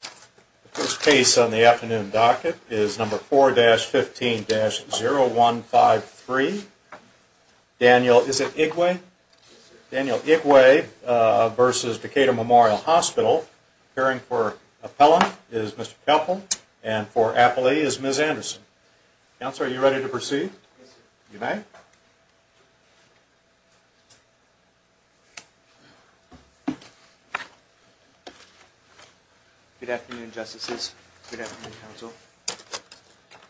The first case on the afternoon docket is number 4-15-0153. Daniel, is it Igwe? Daniel Igwe v. Decatur Memorial Hospital. Appearing for Appellant is Mr. Koeppel. And for Appellee is Ms. Anderson. Counselor, are you ready to proceed? You may. Good afternoon, Justices. Good afternoon, Counsel.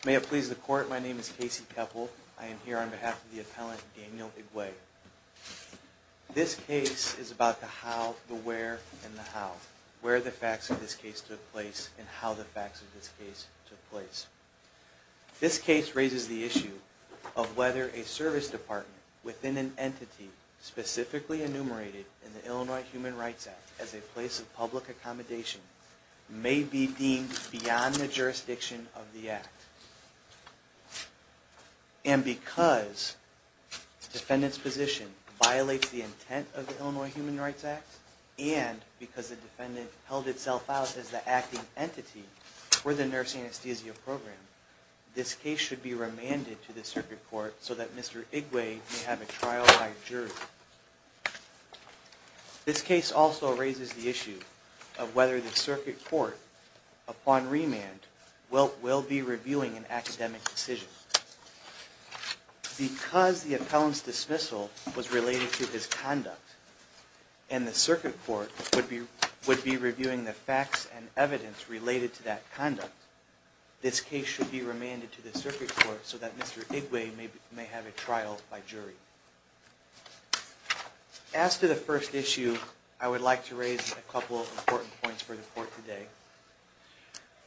May it please the Court, my name is Casey Koeppel. I am here on behalf of the Appellant, Daniel Igwe. This case is about the how, the where, and the how. Where the facts of this case took place, and how the facts of this case took place. This case raises the issue of whether a service department within an entity specifically enumerated in the Illinois Human Rights Act as a place of public accommodation may be deemed beyond the jurisdiction of the Act. And because the defendant's position violates the intent of the Illinois Human Rights Act, and because the defendant held itself out as the acting entity for the nurse anesthesia program, this case should be remanded to the circuit court so that Mr. Igwe may have a trial by jury. This case also raises the issue of whether the circuit court, upon remand, will be reviewing an academic decision. Because the Appellant's dismissal was related to his conduct, and the circuit court would be reviewing the facts and evidence related to that conduct, this case should be remanded to the circuit court so that Mr. Igwe may have a trial by jury. As to the first issue, I would like to raise a couple of important points for the court today.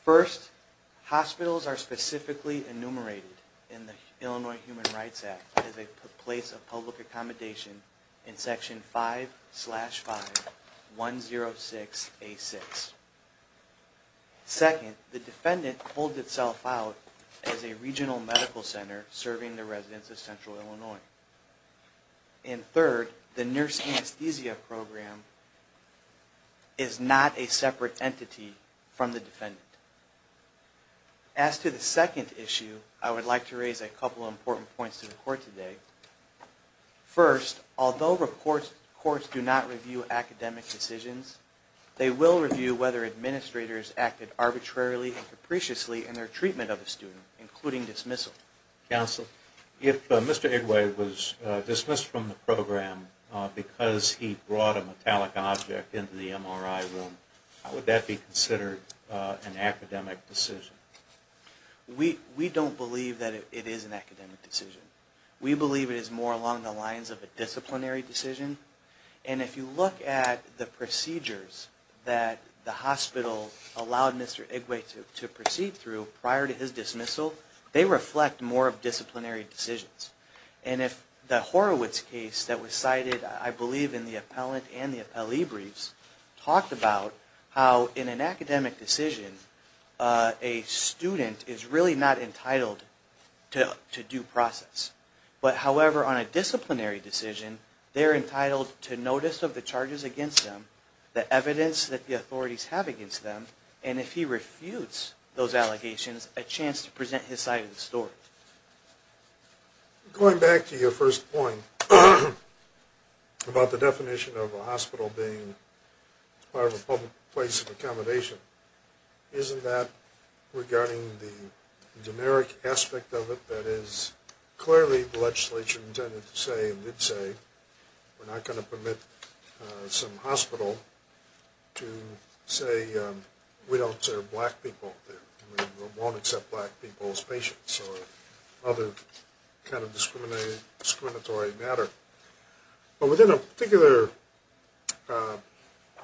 First, hospitals are specifically enumerated in the Illinois Human Rights Act as a place of public accommodation in Section 5-5-106-A-6. Second, the defendant holds itself out as a regional medical center serving the residents of central Illinois. And third, the nurse anesthesia program is not a separate entity from the defendant. As to the second issue, I would like to raise a couple of important points to the court today. First, although courts do not review academic decisions, they will review whether administrators acted arbitrarily and capriciously in their treatment of a student, including dismissal. Counsel, if Mr. Igwe was dismissed from the program because he brought a metallic object into the MRI room, would that be considered an academic decision? We don't believe that it is an academic decision. We believe it is more along the lines of a disciplinary decision. And if you look at the procedures that the hospital allowed Mr. Igwe to proceed through prior to his dismissal, they reflect more of disciplinary decisions. And if the Horowitz case that was cited, I believe in the appellate and the appellee briefs, talked about how in an academic decision, a student is really not entitled to due process. But however, on a disciplinary decision, they're entitled to notice of the charges against them, the evidence that the authorities have against them, and if he refutes those allegations, a chance to present his side of the story. Going back to your first point about the definition of a hospital being part of a public place of accommodation, isn't that regarding the generic aspect of it that is clearly the legislature intended to say we're not going to permit some hospital to say we don't serve black people, we won't accept black people as patients or other kind of discriminatory matter. But within a particular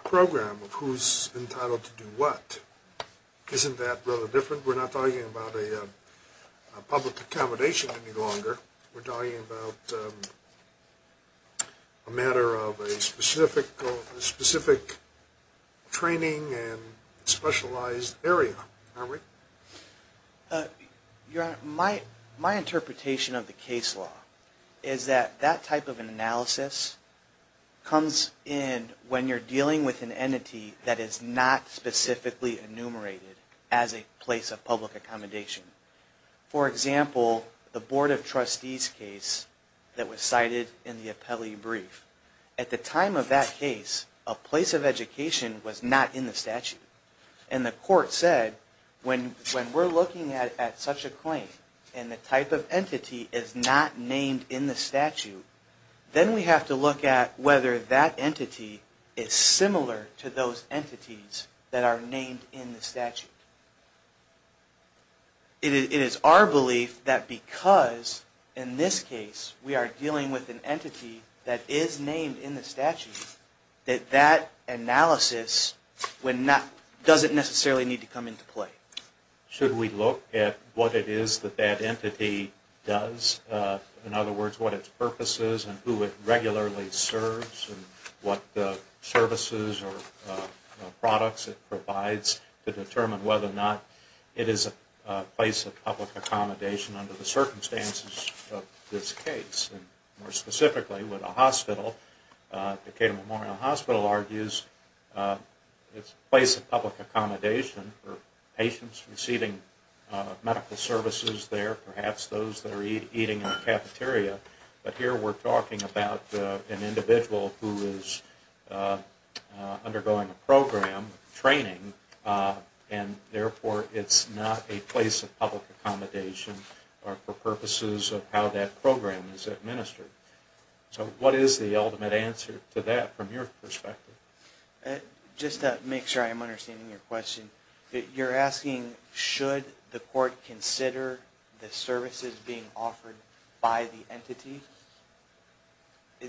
program of who's entitled to do what, isn't that rather different? We're not talking about a public accommodation any longer. We're talking about a matter of a specific training and specialized area, aren't we? Your Honor, my interpretation of the case law is that that type of analysis comes in when you're dealing with an entity that is not specifically enumerated as a place of public accommodation. For example, the Board of Trustees case that was cited in the appellee brief. At the time of that case, a place of education was not in the statute, and the court said when we're looking at such a claim and the type of entity is not named in the statute, then we have to look at whether that entity is similar to those entities that are named in the statute. It is our belief that because in this case we are dealing with an entity that is named in the statute, that that analysis doesn't necessarily need to come into play. Should we look at what it is that that entity does? In other words, what its purpose is and who it regularly serves, and what services or products it provides to determine whether or not it is a place of public accommodation under the circumstances of this case. More specifically with a hospital, Decatur Memorial Hospital argues it's a place of public accommodation for patients receiving medical services there, perhaps those that are eating in a cafeteria. But here we're talking about an individual who is undergoing a program, training, and therefore it's not a place of public accommodation for purposes of how that program is administered. So what is the ultimate answer to that from your perspective? Just to make sure I'm understanding your question, you're asking should the court consider the services being offered by the entity?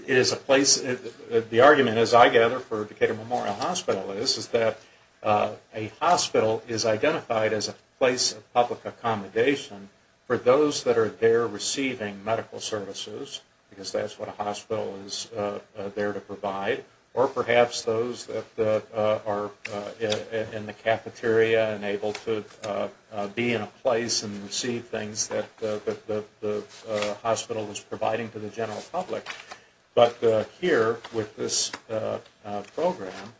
The argument, as I gather, for Decatur Memorial Hospital is that a hospital is identified as a place of public accommodation for those that are there receiving medical services, because that's what a hospital is there to provide, or perhaps those that are in the cafeteria and able to be in a place and receive things that the hospital is providing to the general public. But here with this program,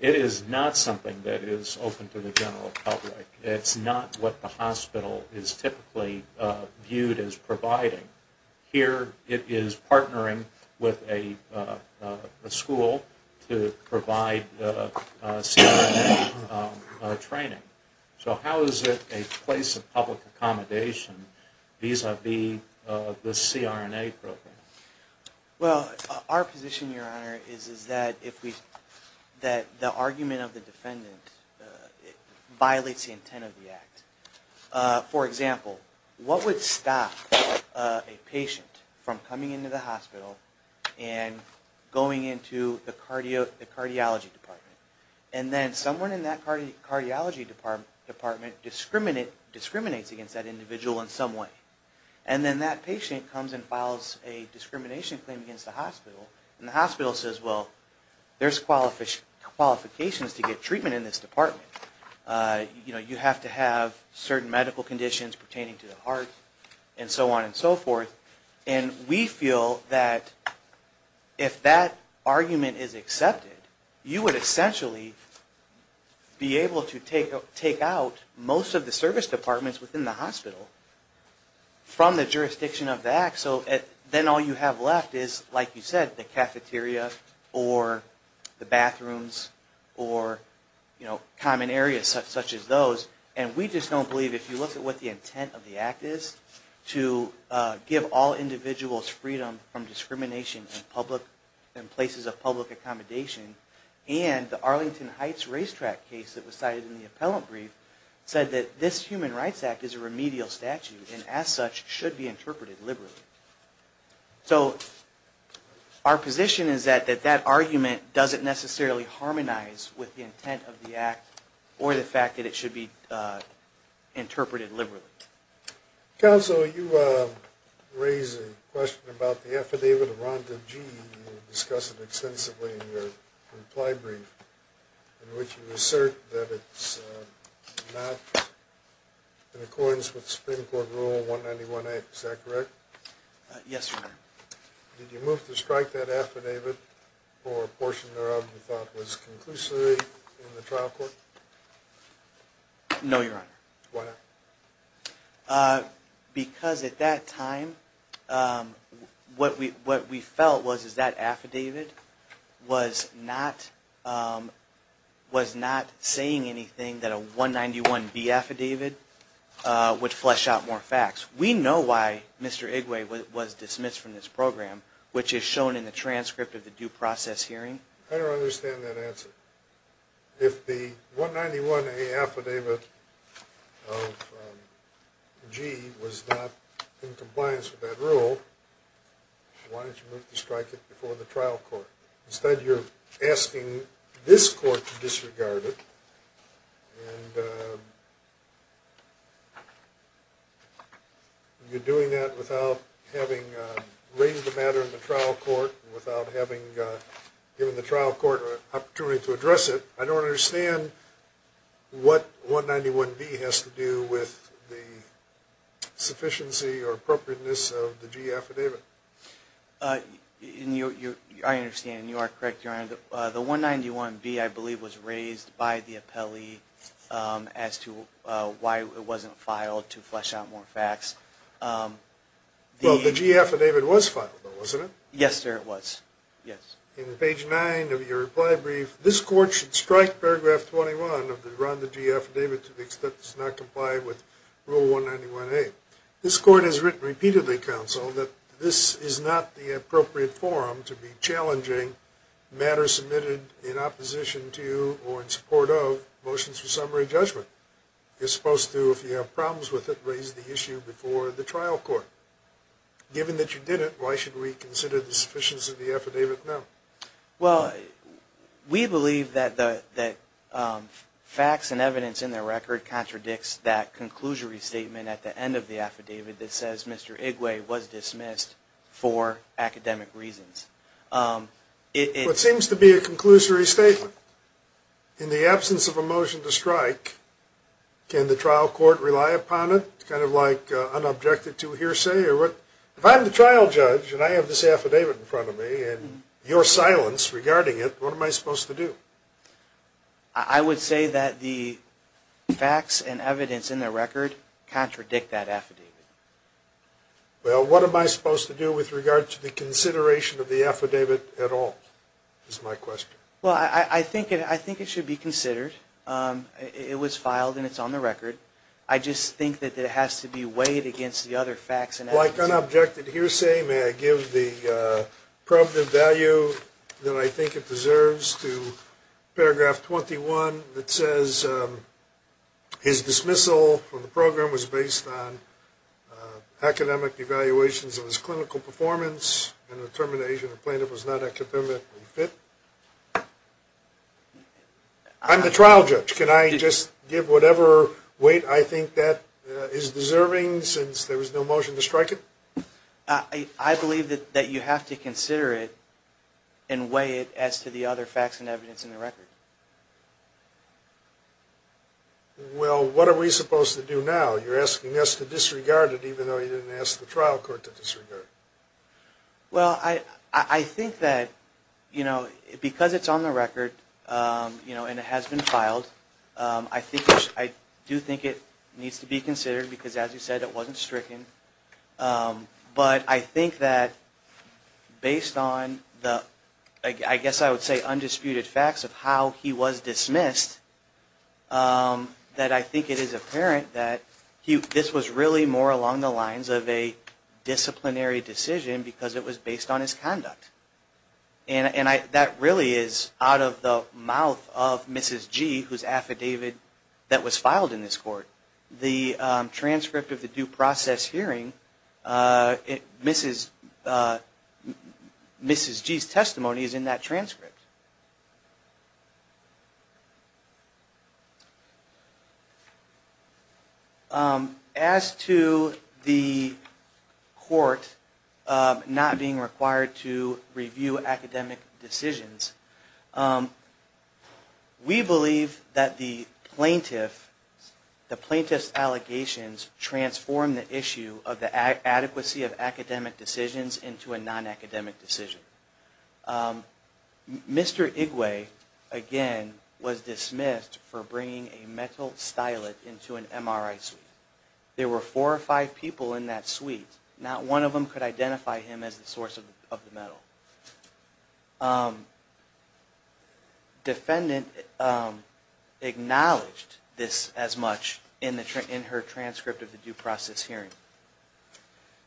it is not something that is open to the general public. It's not what the hospital is typically viewed as providing. Here it is partnering with a school to provide CRNA training. So how is it a place of public accommodation vis-a-vis the CRNA program? Well, our position, Your Honor, is that the argument of the defendant violates the intent of the act. For example, what would stop a patient from coming into the hospital and going into the cardiology department? And then someone in that cardiology department discriminates against that individual in some way. And then that patient comes and files a discrimination claim against the hospital, and the hospital says, well, there's qualifications to get treatment in this department. You know, you have to have certain medical conditions pertaining to the heart, and so on and so forth. And we feel that if that argument is accepted, you would essentially be able to take out most of the service departments within the hospital from the jurisdiction of the act. So then all you have left is, like you said, the cafeteria or the bathrooms or common areas such as those. And we just don't believe, if you look at what the intent of the act is, to give all individuals freedom from discrimination in places of public accommodation. And the Arlington Heights racetrack case that was cited in the appellant brief said that this Human Rights Act is a remedial statute and, as such, should be interpreted liberally. So our position is that that argument doesn't necessarily harmonize with the intent of the act or the fact that it should be interpreted liberally. Counsel, you raised a question about the affidavit of Rhonda G. You discussed it extensively in your reply brief, in which you assert that it's not in accordance with Supreme Court Rule 191A. Is that correct? Yes, Your Honor. Did you move to strike that affidavit for a portion thereof you thought was conclusively in the trial court? No, Your Honor. Why not? Because at that time what we felt was that affidavit was not saying anything that a 191B affidavit would flesh out more facts. We know why Mr. Igwe was dismissed from this program, which is shown in the transcript of the due process hearing. I don't understand that answer. If the 191A affidavit of G. was not in compliance with that rule, why didn't you move to strike it before the trial court? Instead, you're asking this court to disregard it. And you're doing that without having raised the matter in the trial court, without having given the trial court an opportunity to address it. I don't understand what 191B has to do with the sufficiency or appropriateness of the G affidavit. I understand, and you are correct, Your Honor. And the 191B, I believe, was raised by the appellee as to why it wasn't filed to flesh out more facts. Well, the G affidavit was filed, though, wasn't it? Yes, sir, it was. Yes. In page 9 of your reply brief, this court should strike paragraph 21 of the Rhonda G affidavit to the extent that it's not complied with Rule 191A. This court has repeatedly counseled that this is not the appropriate forum to be challenging matters submitted in opposition to or in support of motions for summary judgment. You're supposed to, if you have problems with it, raise the issue before the trial court. Given that you didn't, why should we consider the sufficiency of the affidavit now? Well, we believe that facts and evidence in the record contradicts that conclusory statement at the end of the affidavit that says Mr. Igwe was dismissed for academic reasons. It seems to be a conclusory statement. In the absence of a motion to strike, can the trial court rely upon it, kind of like unobjected to hearsay? If I'm the trial judge and I have this affidavit in front of me and your silence regarding it, what am I supposed to do? I would say that the facts and evidence in the record contradict that affidavit. Well, what am I supposed to do with regard to the consideration of the affidavit at all, is my question. Well, I think it should be considered. It was filed and it's on the record. I just think that it has to be weighed against the other facts and evidence. Like unobjected to hearsay, may I give the probative value that I think it deserves to paragraph 21 that says his dismissal from the program was based on academic evaluations of his clinical performance and the termination of plaintiff was not academically fit? I'm the trial judge. Can I just give whatever weight I think that is deserving since there was no motion to strike it? I believe that you have to consider it and weigh it as to the other facts and evidence in the record. Well, what are we supposed to do now? You're asking us to disregard it even though you didn't ask the trial court to disregard it. Well, I think that because it's on the record and it has been filed, I do think it needs to be considered because, as you said, it wasn't stricken. But I think that based on the, I guess I would say, undisputed facts of how he was dismissed, that I think it is apparent that this was really more along the lines of a disciplinary decision because it was based on his conduct. And that really is out of the mouth of Mrs. G, whose affidavit that was filed in this court. The transcript of the due process hearing, Mrs. G's testimony is in that transcript. As to the court not being required to review academic decisions, we believe that the plaintiff's allegations transform the issue of the adequacy of academic decisions into a non-academic decision. Mr. Igwe, again, was dismissed for bringing a metal stylet into an MRI suite. There were four or five people in that suite. Not one of them could identify him as the source of the metal. Defendant acknowledged this as much in her transcript of the due process hearing.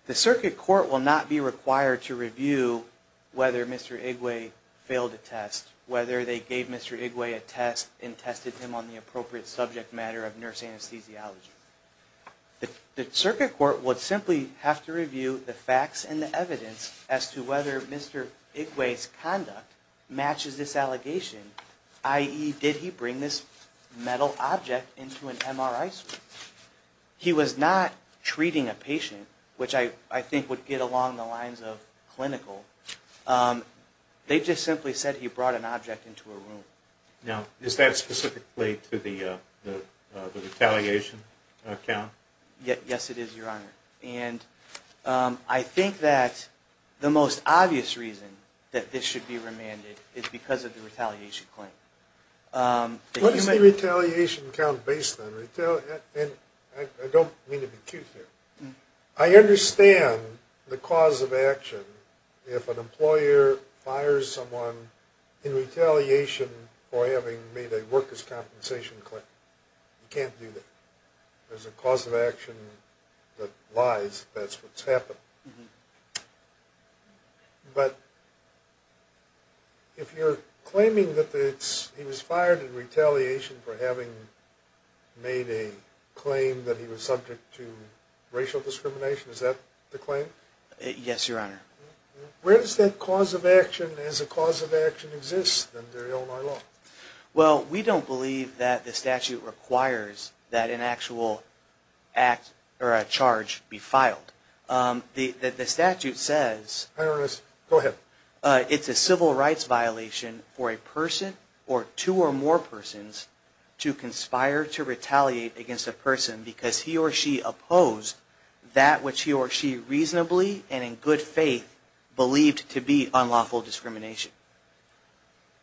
The circuit court will not be required to review whether Mr. Igwe failed a test, whether they gave Mr. Igwe a test and tested him on the appropriate subject matter of nurse anesthesiology. The circuit court would simply have to review the facts and the evidence as to whether Mr. Igwe's conduct matches this allegation, i.e., did he bring this metal object into an MRI suite. He was not treating a patient, which I think would get along the lines of clinical. They just simply said he brought an object into a room. Now, is that specifically to the retaliation count? Yes, it is, Your Honor. And I think that the most obvious reason that this should be remanded is because of the retaliation claim. What is the retaliation count based on? And I don't mean to be cute here. I understand the cause of action if an employer fires someone in retaliation for having made a workers' compensation claim. You can't do that. There's a cause of action that lies if that's what's happened. But if you're claiming that he was fired in retaliation for having made a claim that he was subject to racial discrimination, is that the claim? Yes, Your Honor. Where does that cause of action as a cause of action exist under Illinois law? Well, we don't believe that the statute requires that an actual act or a charge be filed. The statute says it's a civil rights violation for a person or two or more persons to conspire to retaliate against a person because he or she opposed that which he or she reasonably and in good faith believed to be unlawful discrimination.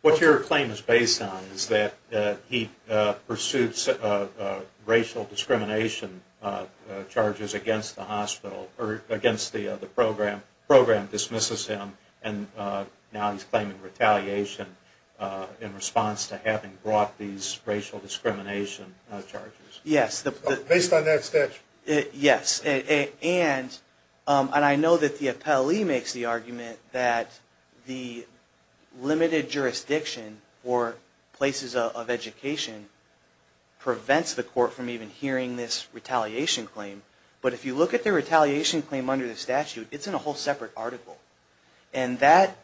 What your claim is based on is that he pursuits racial discrimination charges against the program, the program dismisses him, and now he's claiming retaliation in response to having brought these racial discrimination charges. Yes. Based on that statute? Yes. And I know that the appellee makes the argument that the limited jurisdiction for places of education prevents the court from even hearing this retaliation claim. But if you look at the retaliation claim under the statute, it's in a whole separate article. And that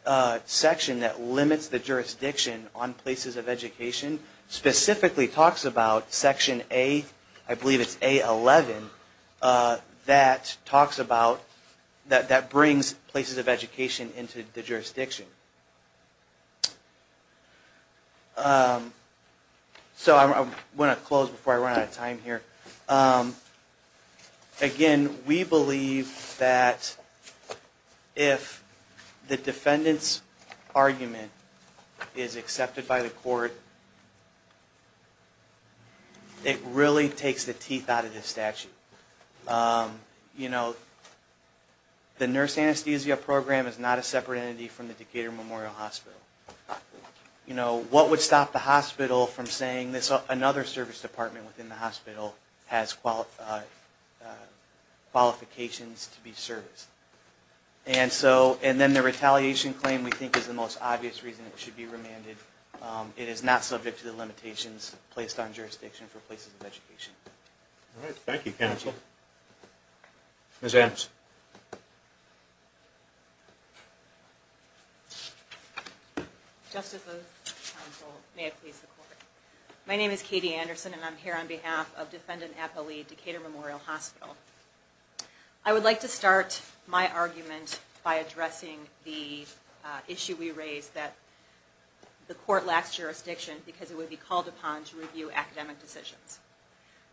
section that limits the jurisdiction on places of education specifically talks about section A, I believe it's A11, that talks about, that brings places of education into the jurisdiction. So I want to close before I run out of time here. Again, we believe that if the defendant's argument is accepted by the court, it really takes the teeth out of this statute. You know, the nurse anesthesia program is not a separate entity from the Decatur Memorial Hospital. You know, what would stop the hospital from saying another service department within the hospital has qualifications to be serviced? And so, and then the retaliation claim we think is the most obvious reason it should be remanded. It is not subject to the limitations placed on jurisdiction for places of education. All right. Thank you, counsel. Ms. Adams. Justices, counsel, may it please the court. My name is Katie Anderson and I'm here on behalf of defendant appellee Decatur Memorial Hospital. I would like to start my argument by addressing the issue we raised that the court lacks jurisdiction because it would be called upon to review academic decisions.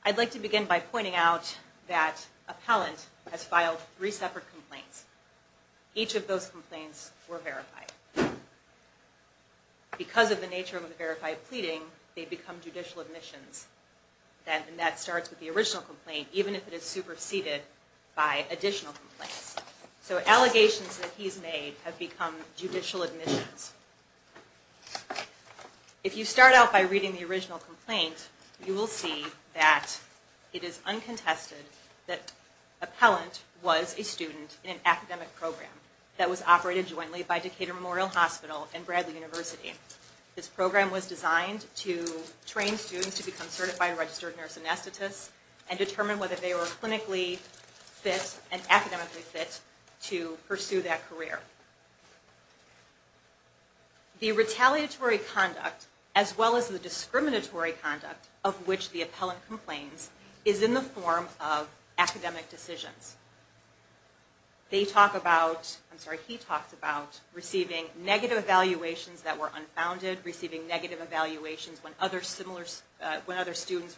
I'd like to begin by pointing out that appellant has filed three separate complaints. Each of those complaints were verified. Because of the nature of the verified pleading, they become judicial admissions. And that starts with the original complaint, even if it is superseded by additional complaints. So allegations that he's made have become judicial admissions. If you start out by reading the original complaint, you will see that it is uncontested that appellant was a student in an academic program that was operated jointly by Decatur Memorial Hospital and Bradley University. This program was designed to train students to become certified registered nurse anesthetists and determine whether they were clinically fit and academically fit to pursue that career. The retaliatory conduct as well as the discriminatory conduct of which the appellant complains is in the form of academic decisions. They talk about, I'm sorry, he talks about receiving negative evaluations that were unfounded, receiving negative evaluations when other students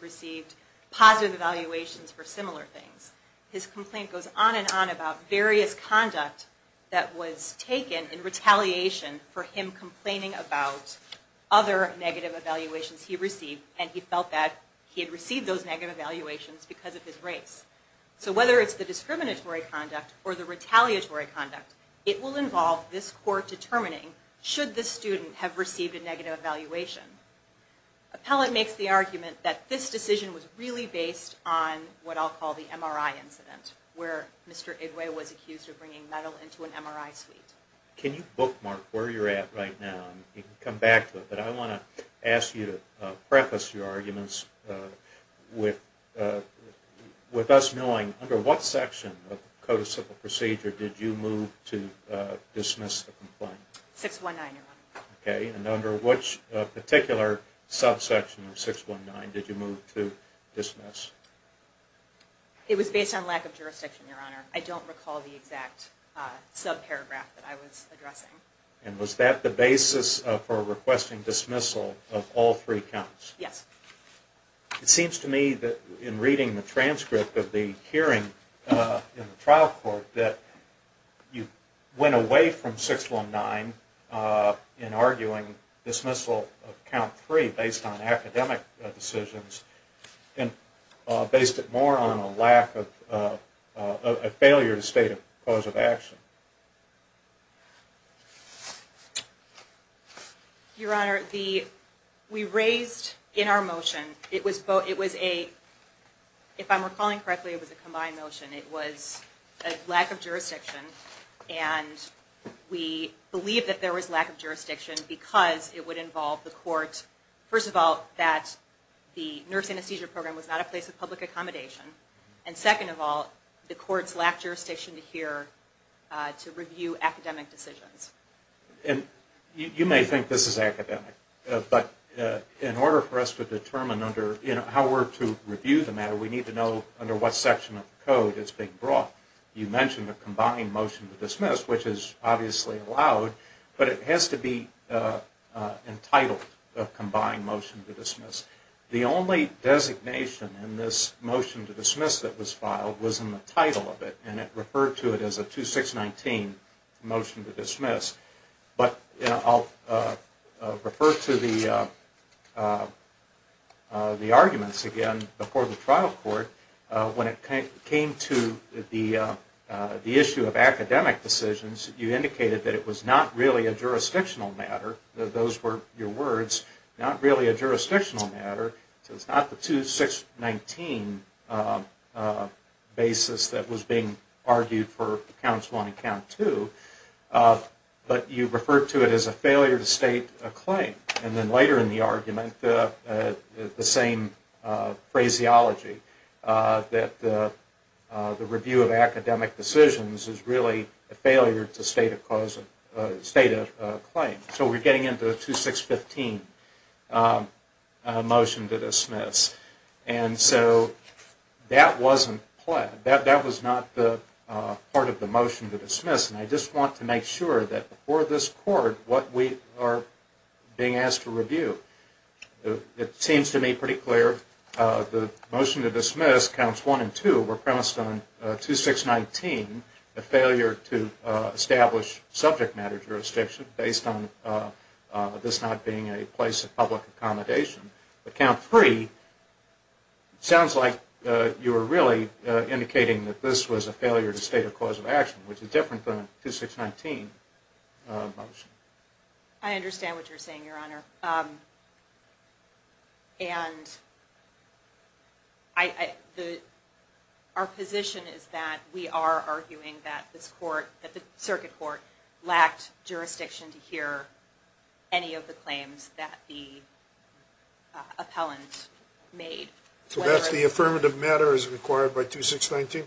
received positive evaluations for similar things. His complaint goes on and on about various conduct that was taken in retaliation for him complaining about other negative evaluations he received and he felt that he had received those negative evaluations because of his race. So whether it's the discriminatory conduct or the retaliatory conduct, it will involve this court determining should this student have received a negative evaluation. Appellant makes the argument that this decision was really based on what I'll call the MRI incident where Mr. Igwe was accused of bringing metal into an MRI suite. Can you bookmark where you're at right now? You can come back to it, but I want to ask you to preface your arguments with us knowing under what section of the Code of Civil Procedure did you move to dismiss the complaint? 619, Your Honor. Okay, and under which particular subsection of 619 did you move to dismiss? It was based on lack of jurisdiction, Your Honor. I don't recall the exact subparagraph that I was addressing. And was that the basis for requesting dismissal of all three counts? Yes. It seems to me that in reading the transcript of the hearing in the trial court that you went away from 619 in arguing dismissal of count three based on academic decisions and based it more on a lack of, a failure to state a cause of action. Your Honor, the, we raised in our motion, it was a, if I'm recalling correctly, it was a combined motion. It was a lack of jurisdiction and we believed that there was lack of jurisdiction because it would involve the court, first of all, that the nurse anesthesia program was not a place of public accommodation. And second of all, the court's lack of jurisdiction to hear, to review academic decisions. And you may think this is academic, but in order for us to determine under, you know, how we're to review the matter, we need to know under what section of the Code it's being brought. You mentioned a combined motion to dismiss, which is obviously allowed, but it has to be entitled, a combined motion to dismiss. The only designation in this motion to dismiss that was filed was in the title of it, and it referred to it as a 2619 motion to dismiss. But I'll refer to the arguments again before the trial court. When it came to the issue of academic decisions, you indicated that it was not really a jurisdictional matter. Those were your words, not really a jurisdictional matter. So it's not the 2619 basis that was being argued for counts one and count two, but you referred to it as a failure to state a claim. And then later in the argument, the same phraseology, that the review of academic decisions is really a failure to state a claim. So we're getting into a 2615 motion to dismiss. And so that wasn't planned. And I just want to make sure that before this court, what we are being asked to review, it seems to me pretty clear the motion to dismiss, counts one and two, were premised on 2619, a failure to establish subject matter jurisdiction based on this not being a place of public accommodation. But count three sounds like you were really indicating that this was a failure to state a cause of action, which is different than a 2619 motion. I understand what you're saying, Your Honor. And our position is that we are arguing that this court, that the circuit court, lacked jurisdiction to hear any of the claims that the appellant made. So that's the affirmative matter as required by 2619?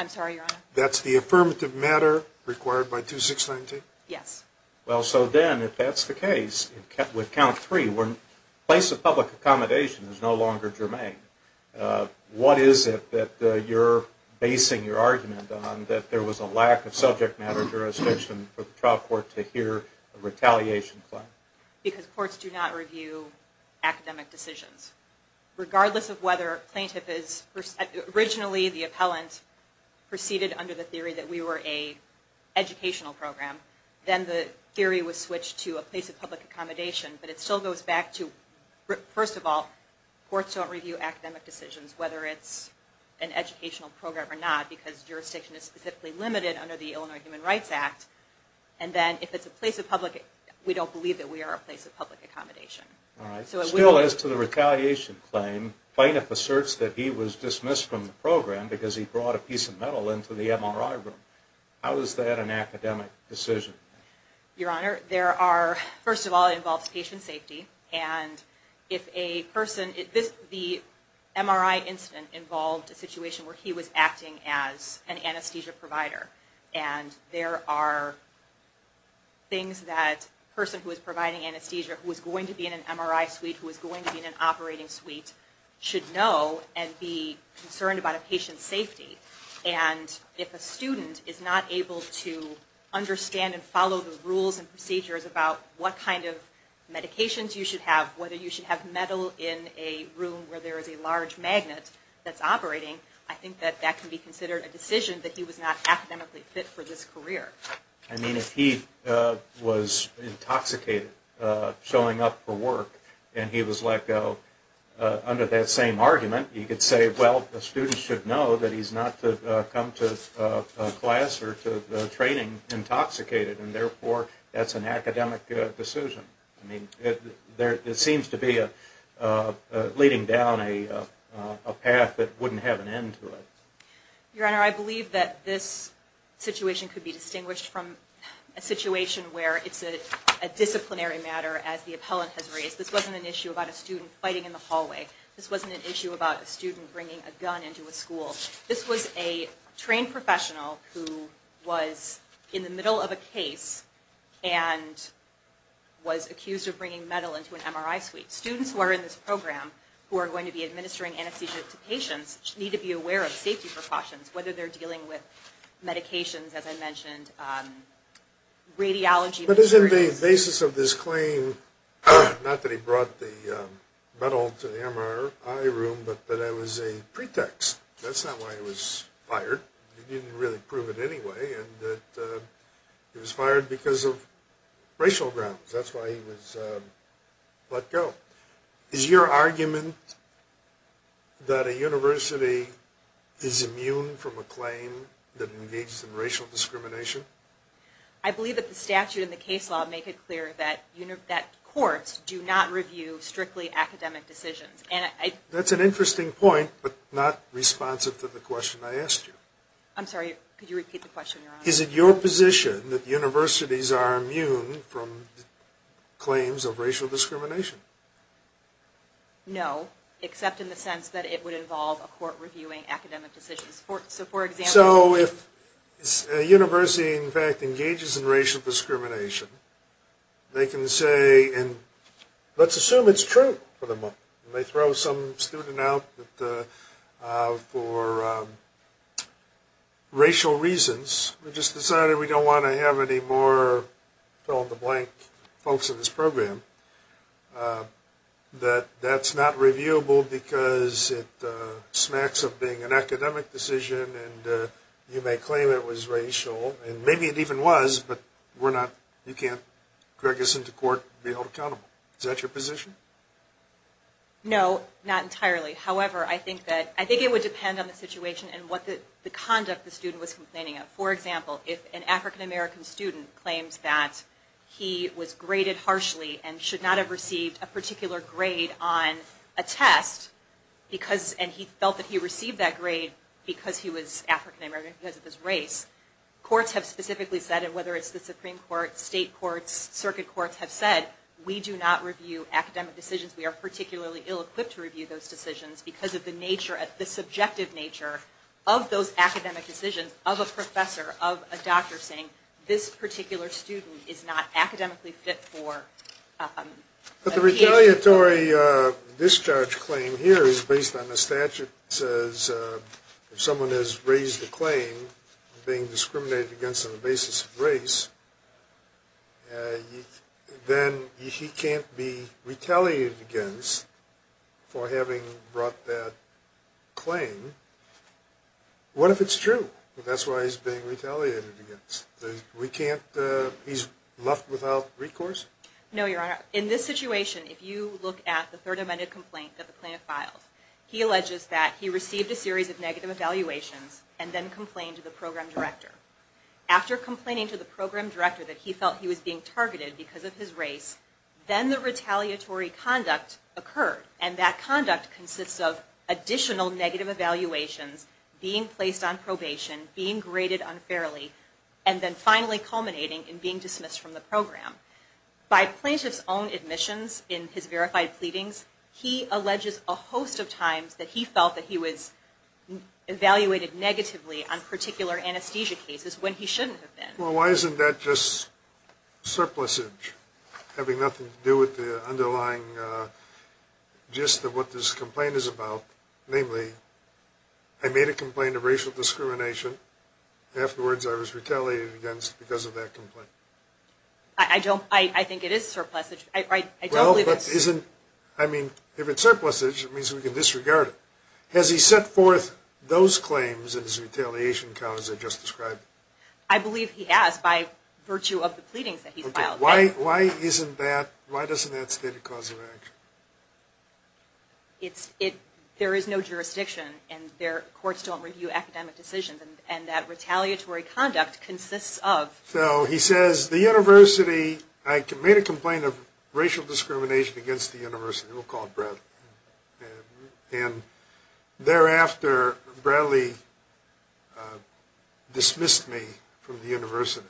I'm sorry, Your Honor? That's the affirmative matter required by 2619? Yes. Well, so then if that's the case, with count three, where a place of public accommodation is no longer germane, what is it that you're basing your argument on, that there was a lack of subject matter jurisdiction for the trial court to hear a retaliation claim? Because courts do not review academic decisions. Regardless of whether a plaintiff is, originally the appellant proceeded under the theory that we were an educational program, then the theory was switched to a place of public accommodation. But it still goes back to, first of all, courts don't review academic decisions, whether it's an educational program or not, because jurisdiction is specifically limited under the Illinois Human Rights Act. And then if it's a place of public, we don't believe that we are a place of public accommodation. All right. Still, as to the retaliation claim, plaintiff asserts that he was dismissed from the program because he brought a piece of metal into the MRI room. How is that an academic decision? Your Honor, there are, first of all, it involves patient safety. And if a person, the MRI incident involved a situation where he was acting as an anesthesia provider. And there are things that a person who is providing anesthesia, who is going to be in an MRI suite, who is going to be in an operating suite, should know and be concerned about a patient's safety. And if a student is not able to understand and follow the rules and procedures about what kind of medications you should have, whether you should have metal in a room where there is a large magnet that's operating, I think that that can be considered a decision that he was not academically fit for this career. I mean, if he was intoxicated showing up for work and he was let go under that same argument, you could say, well, the student should know that he's not to come to class or to training intoxicated. And therefore, that's an academic decision. I mean, there seems to be a leading down a path that wouldn't have an end to it. Your Honor, I believe that this situation could be distinguished from a situation where it's a disciplinary matter as the appellant has raised. This wasn't an issue about a student fighting in the hallway. This wasn't an issue about a student bringing a gun into a school. This was a trained professional who was in the middle of a case and was accused of bringing metal into an MRI suite. Students who are in this program who are going to be administering anesthesia to patients need to be aware of safety precautions, whether they're dealing with medications, as I mentioned, radiology. But isn't the basis of this claim not that he brought the metal to the MRI room, but that it was a pretext? That's not why he was fired. He didn't really prove it anyway. He was fired because of racial grounds. That's why he was let go. Is your argument that a university is immune from a claim that engages in racial discrimination? I believe that the statute and the case law make it clear that courts do not review strictly academic decisions. That's an interesting point, but not responsive to the question I asked you. I'm sorry, could you repeat the question? Is it your position that universities are immune from claims of racial discrimination? No, except in the sense that it would involve a court reviewing academic decisions. So if a university, in fact, engages in racial discrimination, they can say, and let's assume it's true for the moment. They throw some student out for racial reasons. We just decided we don't want to have any more fill-in-the-blank folks in this program. That's not reviewable because it smacks of being an academic decision, and you may claim it was racial, and maybe it even was, but you can't drag us into court and be held accountable. Is that your position? No, not entirely. However, I think it would depend on the situation and the conduct the student was complaining of. For example, if an African-American student claims that he was graded harshly and should not have received a particular grade on a test, and he felt that he received that grade because he was African-American because of his race, courts have specifically said, and whether it's the Supreme Court, state courts, circuit courts have said, we do not review academic decisions. We are particularly ill-equipped to review those decisions because of the nature, the subjective nature of those academic decisions of a professor, of a doctor, saying this particular student is not academically fit for education. But the retaliatory discharge claim here is based on the statute. It says if someone has raised a claim of being discriminated against on the basis of race, then he can't be retaliated against for having brought that claim. What if it's true? That's why he's being retaliated against. He's left without recourse? No, Your Honor. In this situation, if you look at the Third Amendment complaint that the plaintiff filed, he alleges that he received a series of negative evaluations and then complained to the program director. After complaining to the program director that he felt he was being targeted because of his race, then the retaliatory conduct occurred, and that conduct consists of additional negative evaluations, being placed on probation, being graded unfairly, and then finally culminating in being dismissed from the program. By plaintiff's own admissions in his verified pleadings, he alleges a host of times that he felt that he was evaluated negatively on particular anesthesia cases when he shouldn't have been. Well, why isn't that just surplusage, having nothing to do with the underlying gist of what this complaint is about? Namely, I made a complaint of racial discrimination. Afterwards, I was retaliated against because of that complaint. I think it is surplusage. Well, if it's surplusage, it means we can disregard it. Has he set forth those claims in his retaliation count as I just described? I believe he has, by virtue of the pleadings that he's filed. Why doesn't that state a cause of action? There is no jurisdiction, and courts don't review academic decisions, and that retaliatory conduct consists of... So, he says, the university... I made a complaint of racial discrimination against the university. We'll call it Bradley. And thereafter, Bradley dismissed me from the university.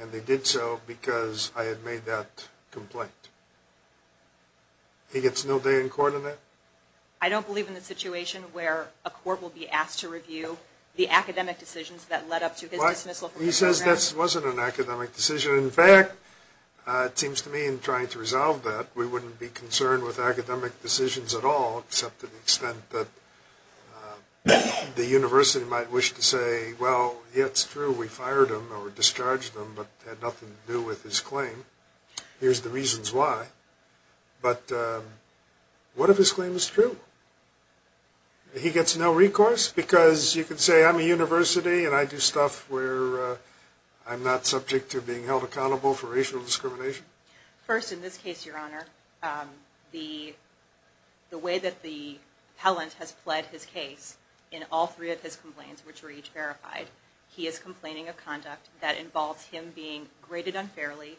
And they did so because I had made that complaint. He gets no day in court on that? I don't believe in the situation where a court will be asked to review the academic decisions that led up to his dismissal from the program. He says that wasn't an academic decision. In fact, it seems to me, in trying to resolve that, we wouldn't be concerned with academic decisions at all, except to the extent that the university might wish to say, well, yeah, it's true, we fired him or discharged him, but it had nothing to do with his claim. Here's the reasons why. But what if his claim is true? He gets no recourse? Because you can say, I'm a university, and I do stuff where I'm not subject to being held accountable for racial discrimination? First, in this case, Your Honor, the way that the appellant has pled his case, in all three of his complaints, which were each verified, he is complaining of conduct that involves him being graded unfairly,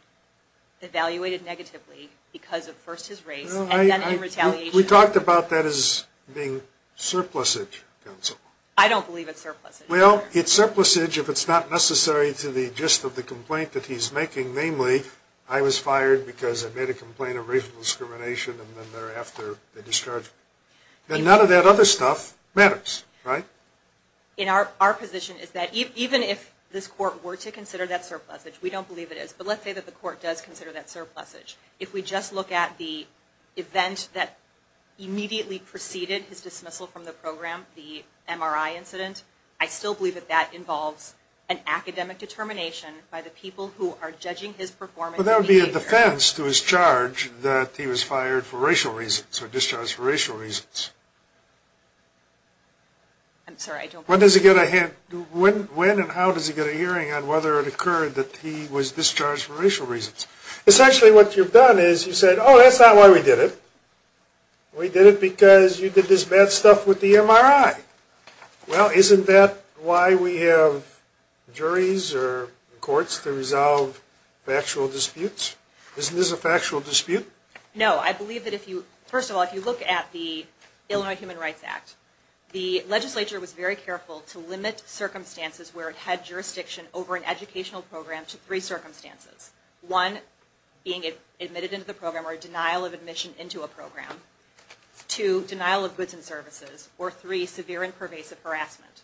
evaluated negatively, because of first his race, and then in retaliation... We talked about that as being surplusage, counsel. I don't believe it's surplusage. Well, it's surplusage if it's not necessary to the gist of the complaint that he's making, namely, I was fired because I made a complaint of racial discrimination, and then thereafter, they discharged me. Then none of that other stuff matters, right? Our position is that even if this court were to consider that surplusage, we don't believe it is, but let's say that the court does consider that surplusage. If we just look at the event that immediately preceded his dismissal from the program, the MRI incident, I still believe that that involves an academic determination by the people who are judging his performance and behavior. Well, that would be a defense to his charge that he was fired for racial reasons or discharged for racial reasons. I'm sorry, I don't... When and how does he get a hearing on whether it occurred that he was discharged for racial reasons? Essentially, what you've done is you've said, oh, that's not why we did it. We did it because you did this bad stuff with the MRI. Well, isn't that why we have juries or courts to resolve factual disputes? Isn't this a factual dispute? No. I believe that if you... First of all, if you look at the Illinois Human Rights Act, the legislature was very careful to limit circumstances where it had jurisdiction over an educational program to three circumstances. One, being admitted into the program or denial of admission into a program. Two, denial of goods and services. Or three, severe and pervasive harassment.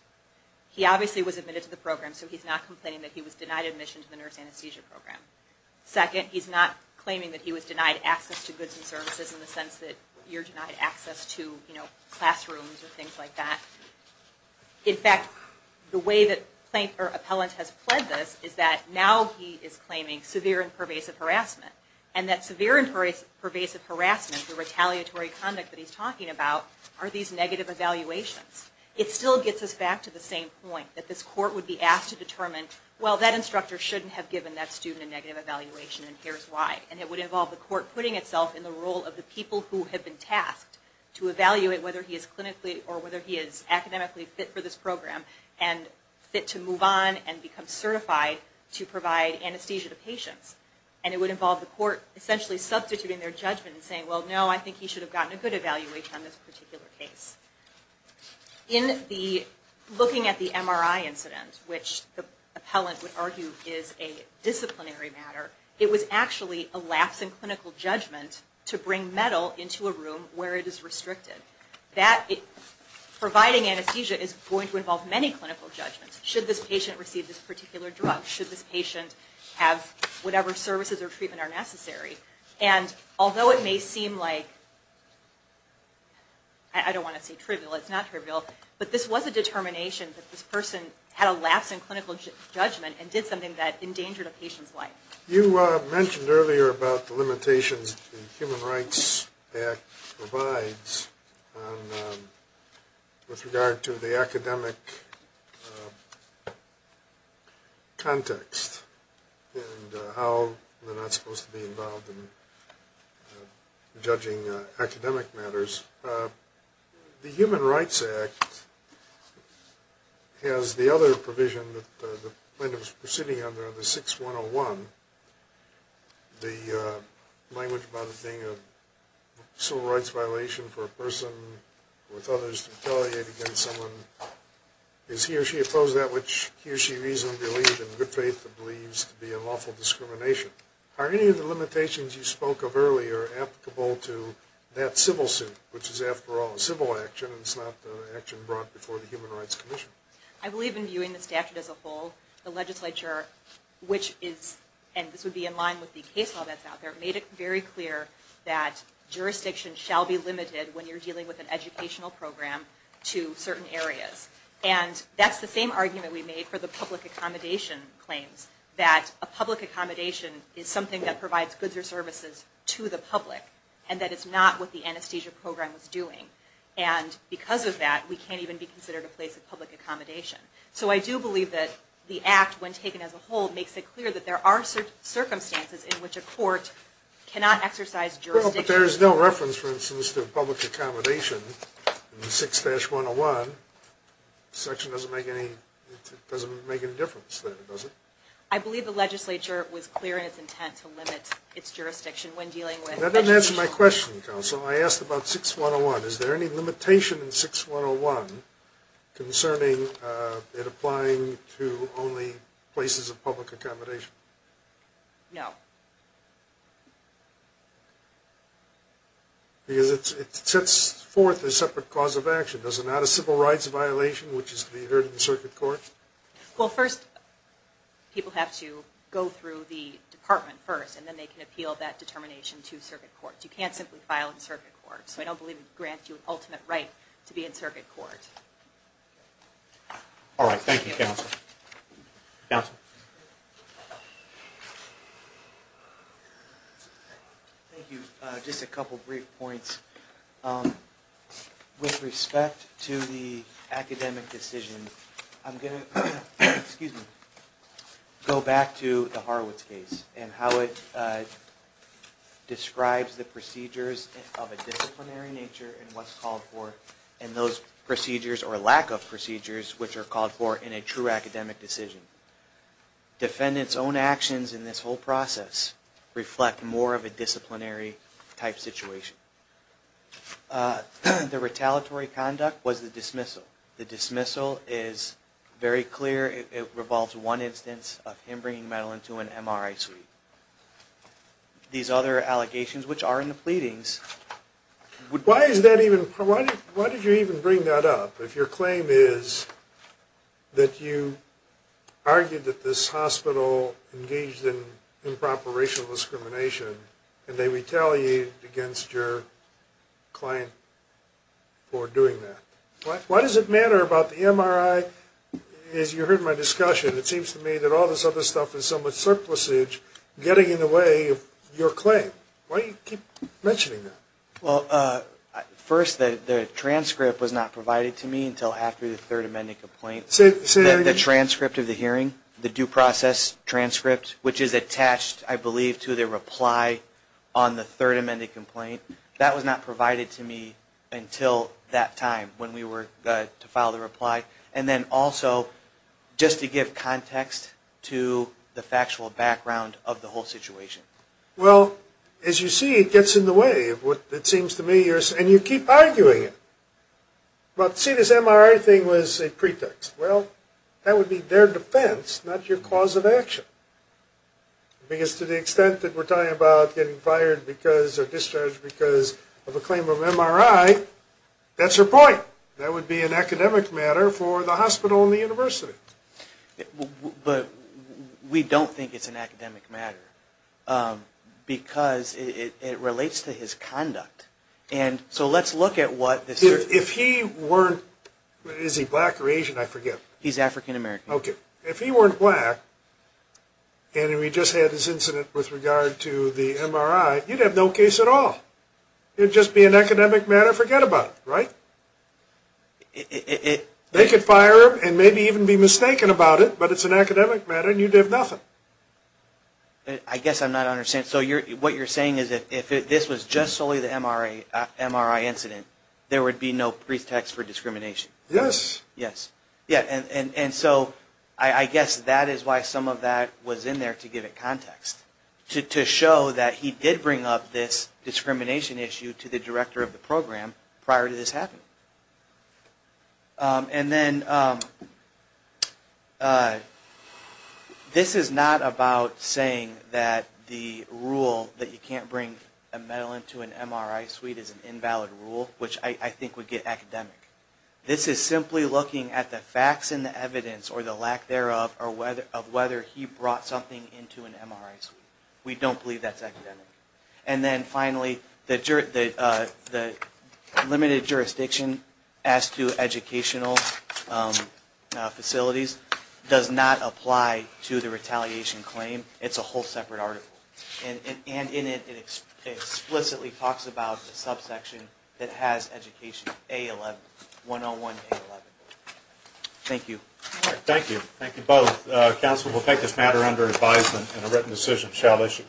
He obviously was admitted to the program, so he's not complaining that he was denied admission to the nurse anesthesia program. Second, he's not claiming that he was denied access to goods and services in the sense that you're denied access to classrooms or things like that. In fact, the way that Appellant has pledged this is that now he is claiming severe and pervasive harassment. And that severe and pervasive harassment, the retaliatory conduct that he's talking about, are these negative evaluations. It still gets us back to the same point, that this court would be asked to determine, well, that instructor shouldn't have given that student a negative evaluation and here's why. And it would involve the court putting itself in the role of the people who have been tasked to evaluate whether he is clinically or whether he is academically fit for this program and fit to move on and become certified to provide anesthesia to patients. And it would involve the court essentially substituting their judgment and saying, well, no, I think he should have gotten a good evaluation on this particular case. In the looking at the MRI incident, which the Appellant would argue is a disciplinary matter, it was actually a lapse in clinical judgment to bring metal into a room where it is restricted. Providing anesthesia is going to involve many clinical judgments. Should this patient receive this particular drug? Should this patient have whatever services or treatment are necessary? And although it may seem like, I don't want to say trivial, it's not trivial, but this was a determination that this person had a lapse in clinical judgment and did something that endangered a patient's life. You mentioned earlier about the limitations the Human Rights Act provides with regard to the academic context and how they're not supposed to be involved in judging academic matters. The Human Rights Act has the other provision that the plaintiff is proceeding under, the 6-101, the language about it being a civil rights violation for a person with others to retaliate against someone. Is he or she opposed to that which he or she reasonably believes, in good faith believes, to be unlawful discrimination? Are any of the limitations you spoke of earlier applicable to that civil suit, which is, after all, a civil action, and it's not an action brought before the Human Rights Commission? I believe in viewing the statute as a whole, the legislature, which is, and this would be in line with the case law that's out there, made it very clear that jurisdiction shall be limited when you're dealing with an educational program to certain areas. And that's the same argument we made for the public accommodation claims, that a public accommodation is something that provides goods or services to the public, and that it's not what the anesthesia program was doing. And because of that, we can't even be considered a place of public accommodation. So I do believe that the Act, when taken as a whole, makes it clear that there are circumstances in which a court cannot exercise jurisdiction. Well, but there is no reference, for instance, to public accommodation in 6-101. The section doesn't make any difference there, does it? I believe the legislature was clear in its intent to limit its jurisdiction when dealing with education. That doesn't answer my question, counsel. I asked about 6-101. Is there any limitation in 6-101 concerning it applying to only places of public accommodation? No. Because it sets forth a separate cause of action. Does it not a civil rights violation, which is to be heard in circuit court? Well, first, people have to go through the department first, and then they can appeal that determination to circuit court. You can't simply file in circuit court. So I don't believe it grants you an ultimate right to be in circuit court. All right. Thank you, counsel. Thank you. Just a couple brief points. With respect to the academic decision, I'm going to go back to the Horowitz case and how it describes the procedures of a disciplinary nature and what's called for, and those procedures or lack of procedures which are called for in a true academic decision. Defendants' own actions in this whole process reflect more of a disciplinary type situation. The retaliatory conduct was the dismissal. The dismissal is very clear. It revolves one instance of him bringing Madeline to an MRI suite. These other allegations, which are in the pleadings, would... Why is that even... Why did you even bring that up if your claim is that you argued that this hospital engaged in improper racial discrimination and they retaliated against your client for doing that? Why does it matter about the MRI? As you heard in my discussion, it seems to me that all this other stuff is somewhat surplusage, getting in the way of your claim. Why do you keep mentioning that? Well, first, the transcript was not provided to me until after the third amended complaint. The transcript of the hearing, the due process transcript, which is attached, I believe, to the reply on the third amended complaint, that was not provided to me until that time when we were to file the reply. And then also, just to give context to the factual background of the whole situation. Well, as you see, it gets in the way of what it seems to me you're... And you keep arguing it. But see, this MRI thing was a pretext. Well, that would be their defense, not your cause of action. Because to the extent that we're talking about getting fired because or discharged because of a claim of MRI, that's your point. That would be an academic matter for the hospital and the university. But we don't think it's an academic matter because it relates to his conduct. And so let's look at what... If he weren't... Is he black or Asian? I forget. He's African American. Okay. If he weren't black and we just had this incident with regard to the MRI, you'd have no case at all. It would just be an academic matter. Forget about it. Right? It... They could fire him and maybe even be mistaken about it, but it's an academic matter and you'd have nothing. I guess I'm not understanding. So what you're saying is that if this was just solely the MRI incident, there would be no pretext for discrimination? Yes. Yes. Yeah. And so I guess that is why some of that was in there to give it context, to show that he did bring up this discrimination issue to the director of the program prior to this happening. And then this is not about saying that the rule that you can't bring a medal into an MRI suite is an invalid rule, which I think would get academic. This is simply looking at the facts and the evidence or the lack thereof of whether he brought something into an MRI suite. And then finally, the limited jurisdiction as to educational facilities does not apply to the retaliation claim. It's a whole separate article. And in it, it explicitly talks about the subsection that has education, A11, 101A11. Thank you. Thank you. Thank you both. Council will take this matter under advisement and a written decision shall issue.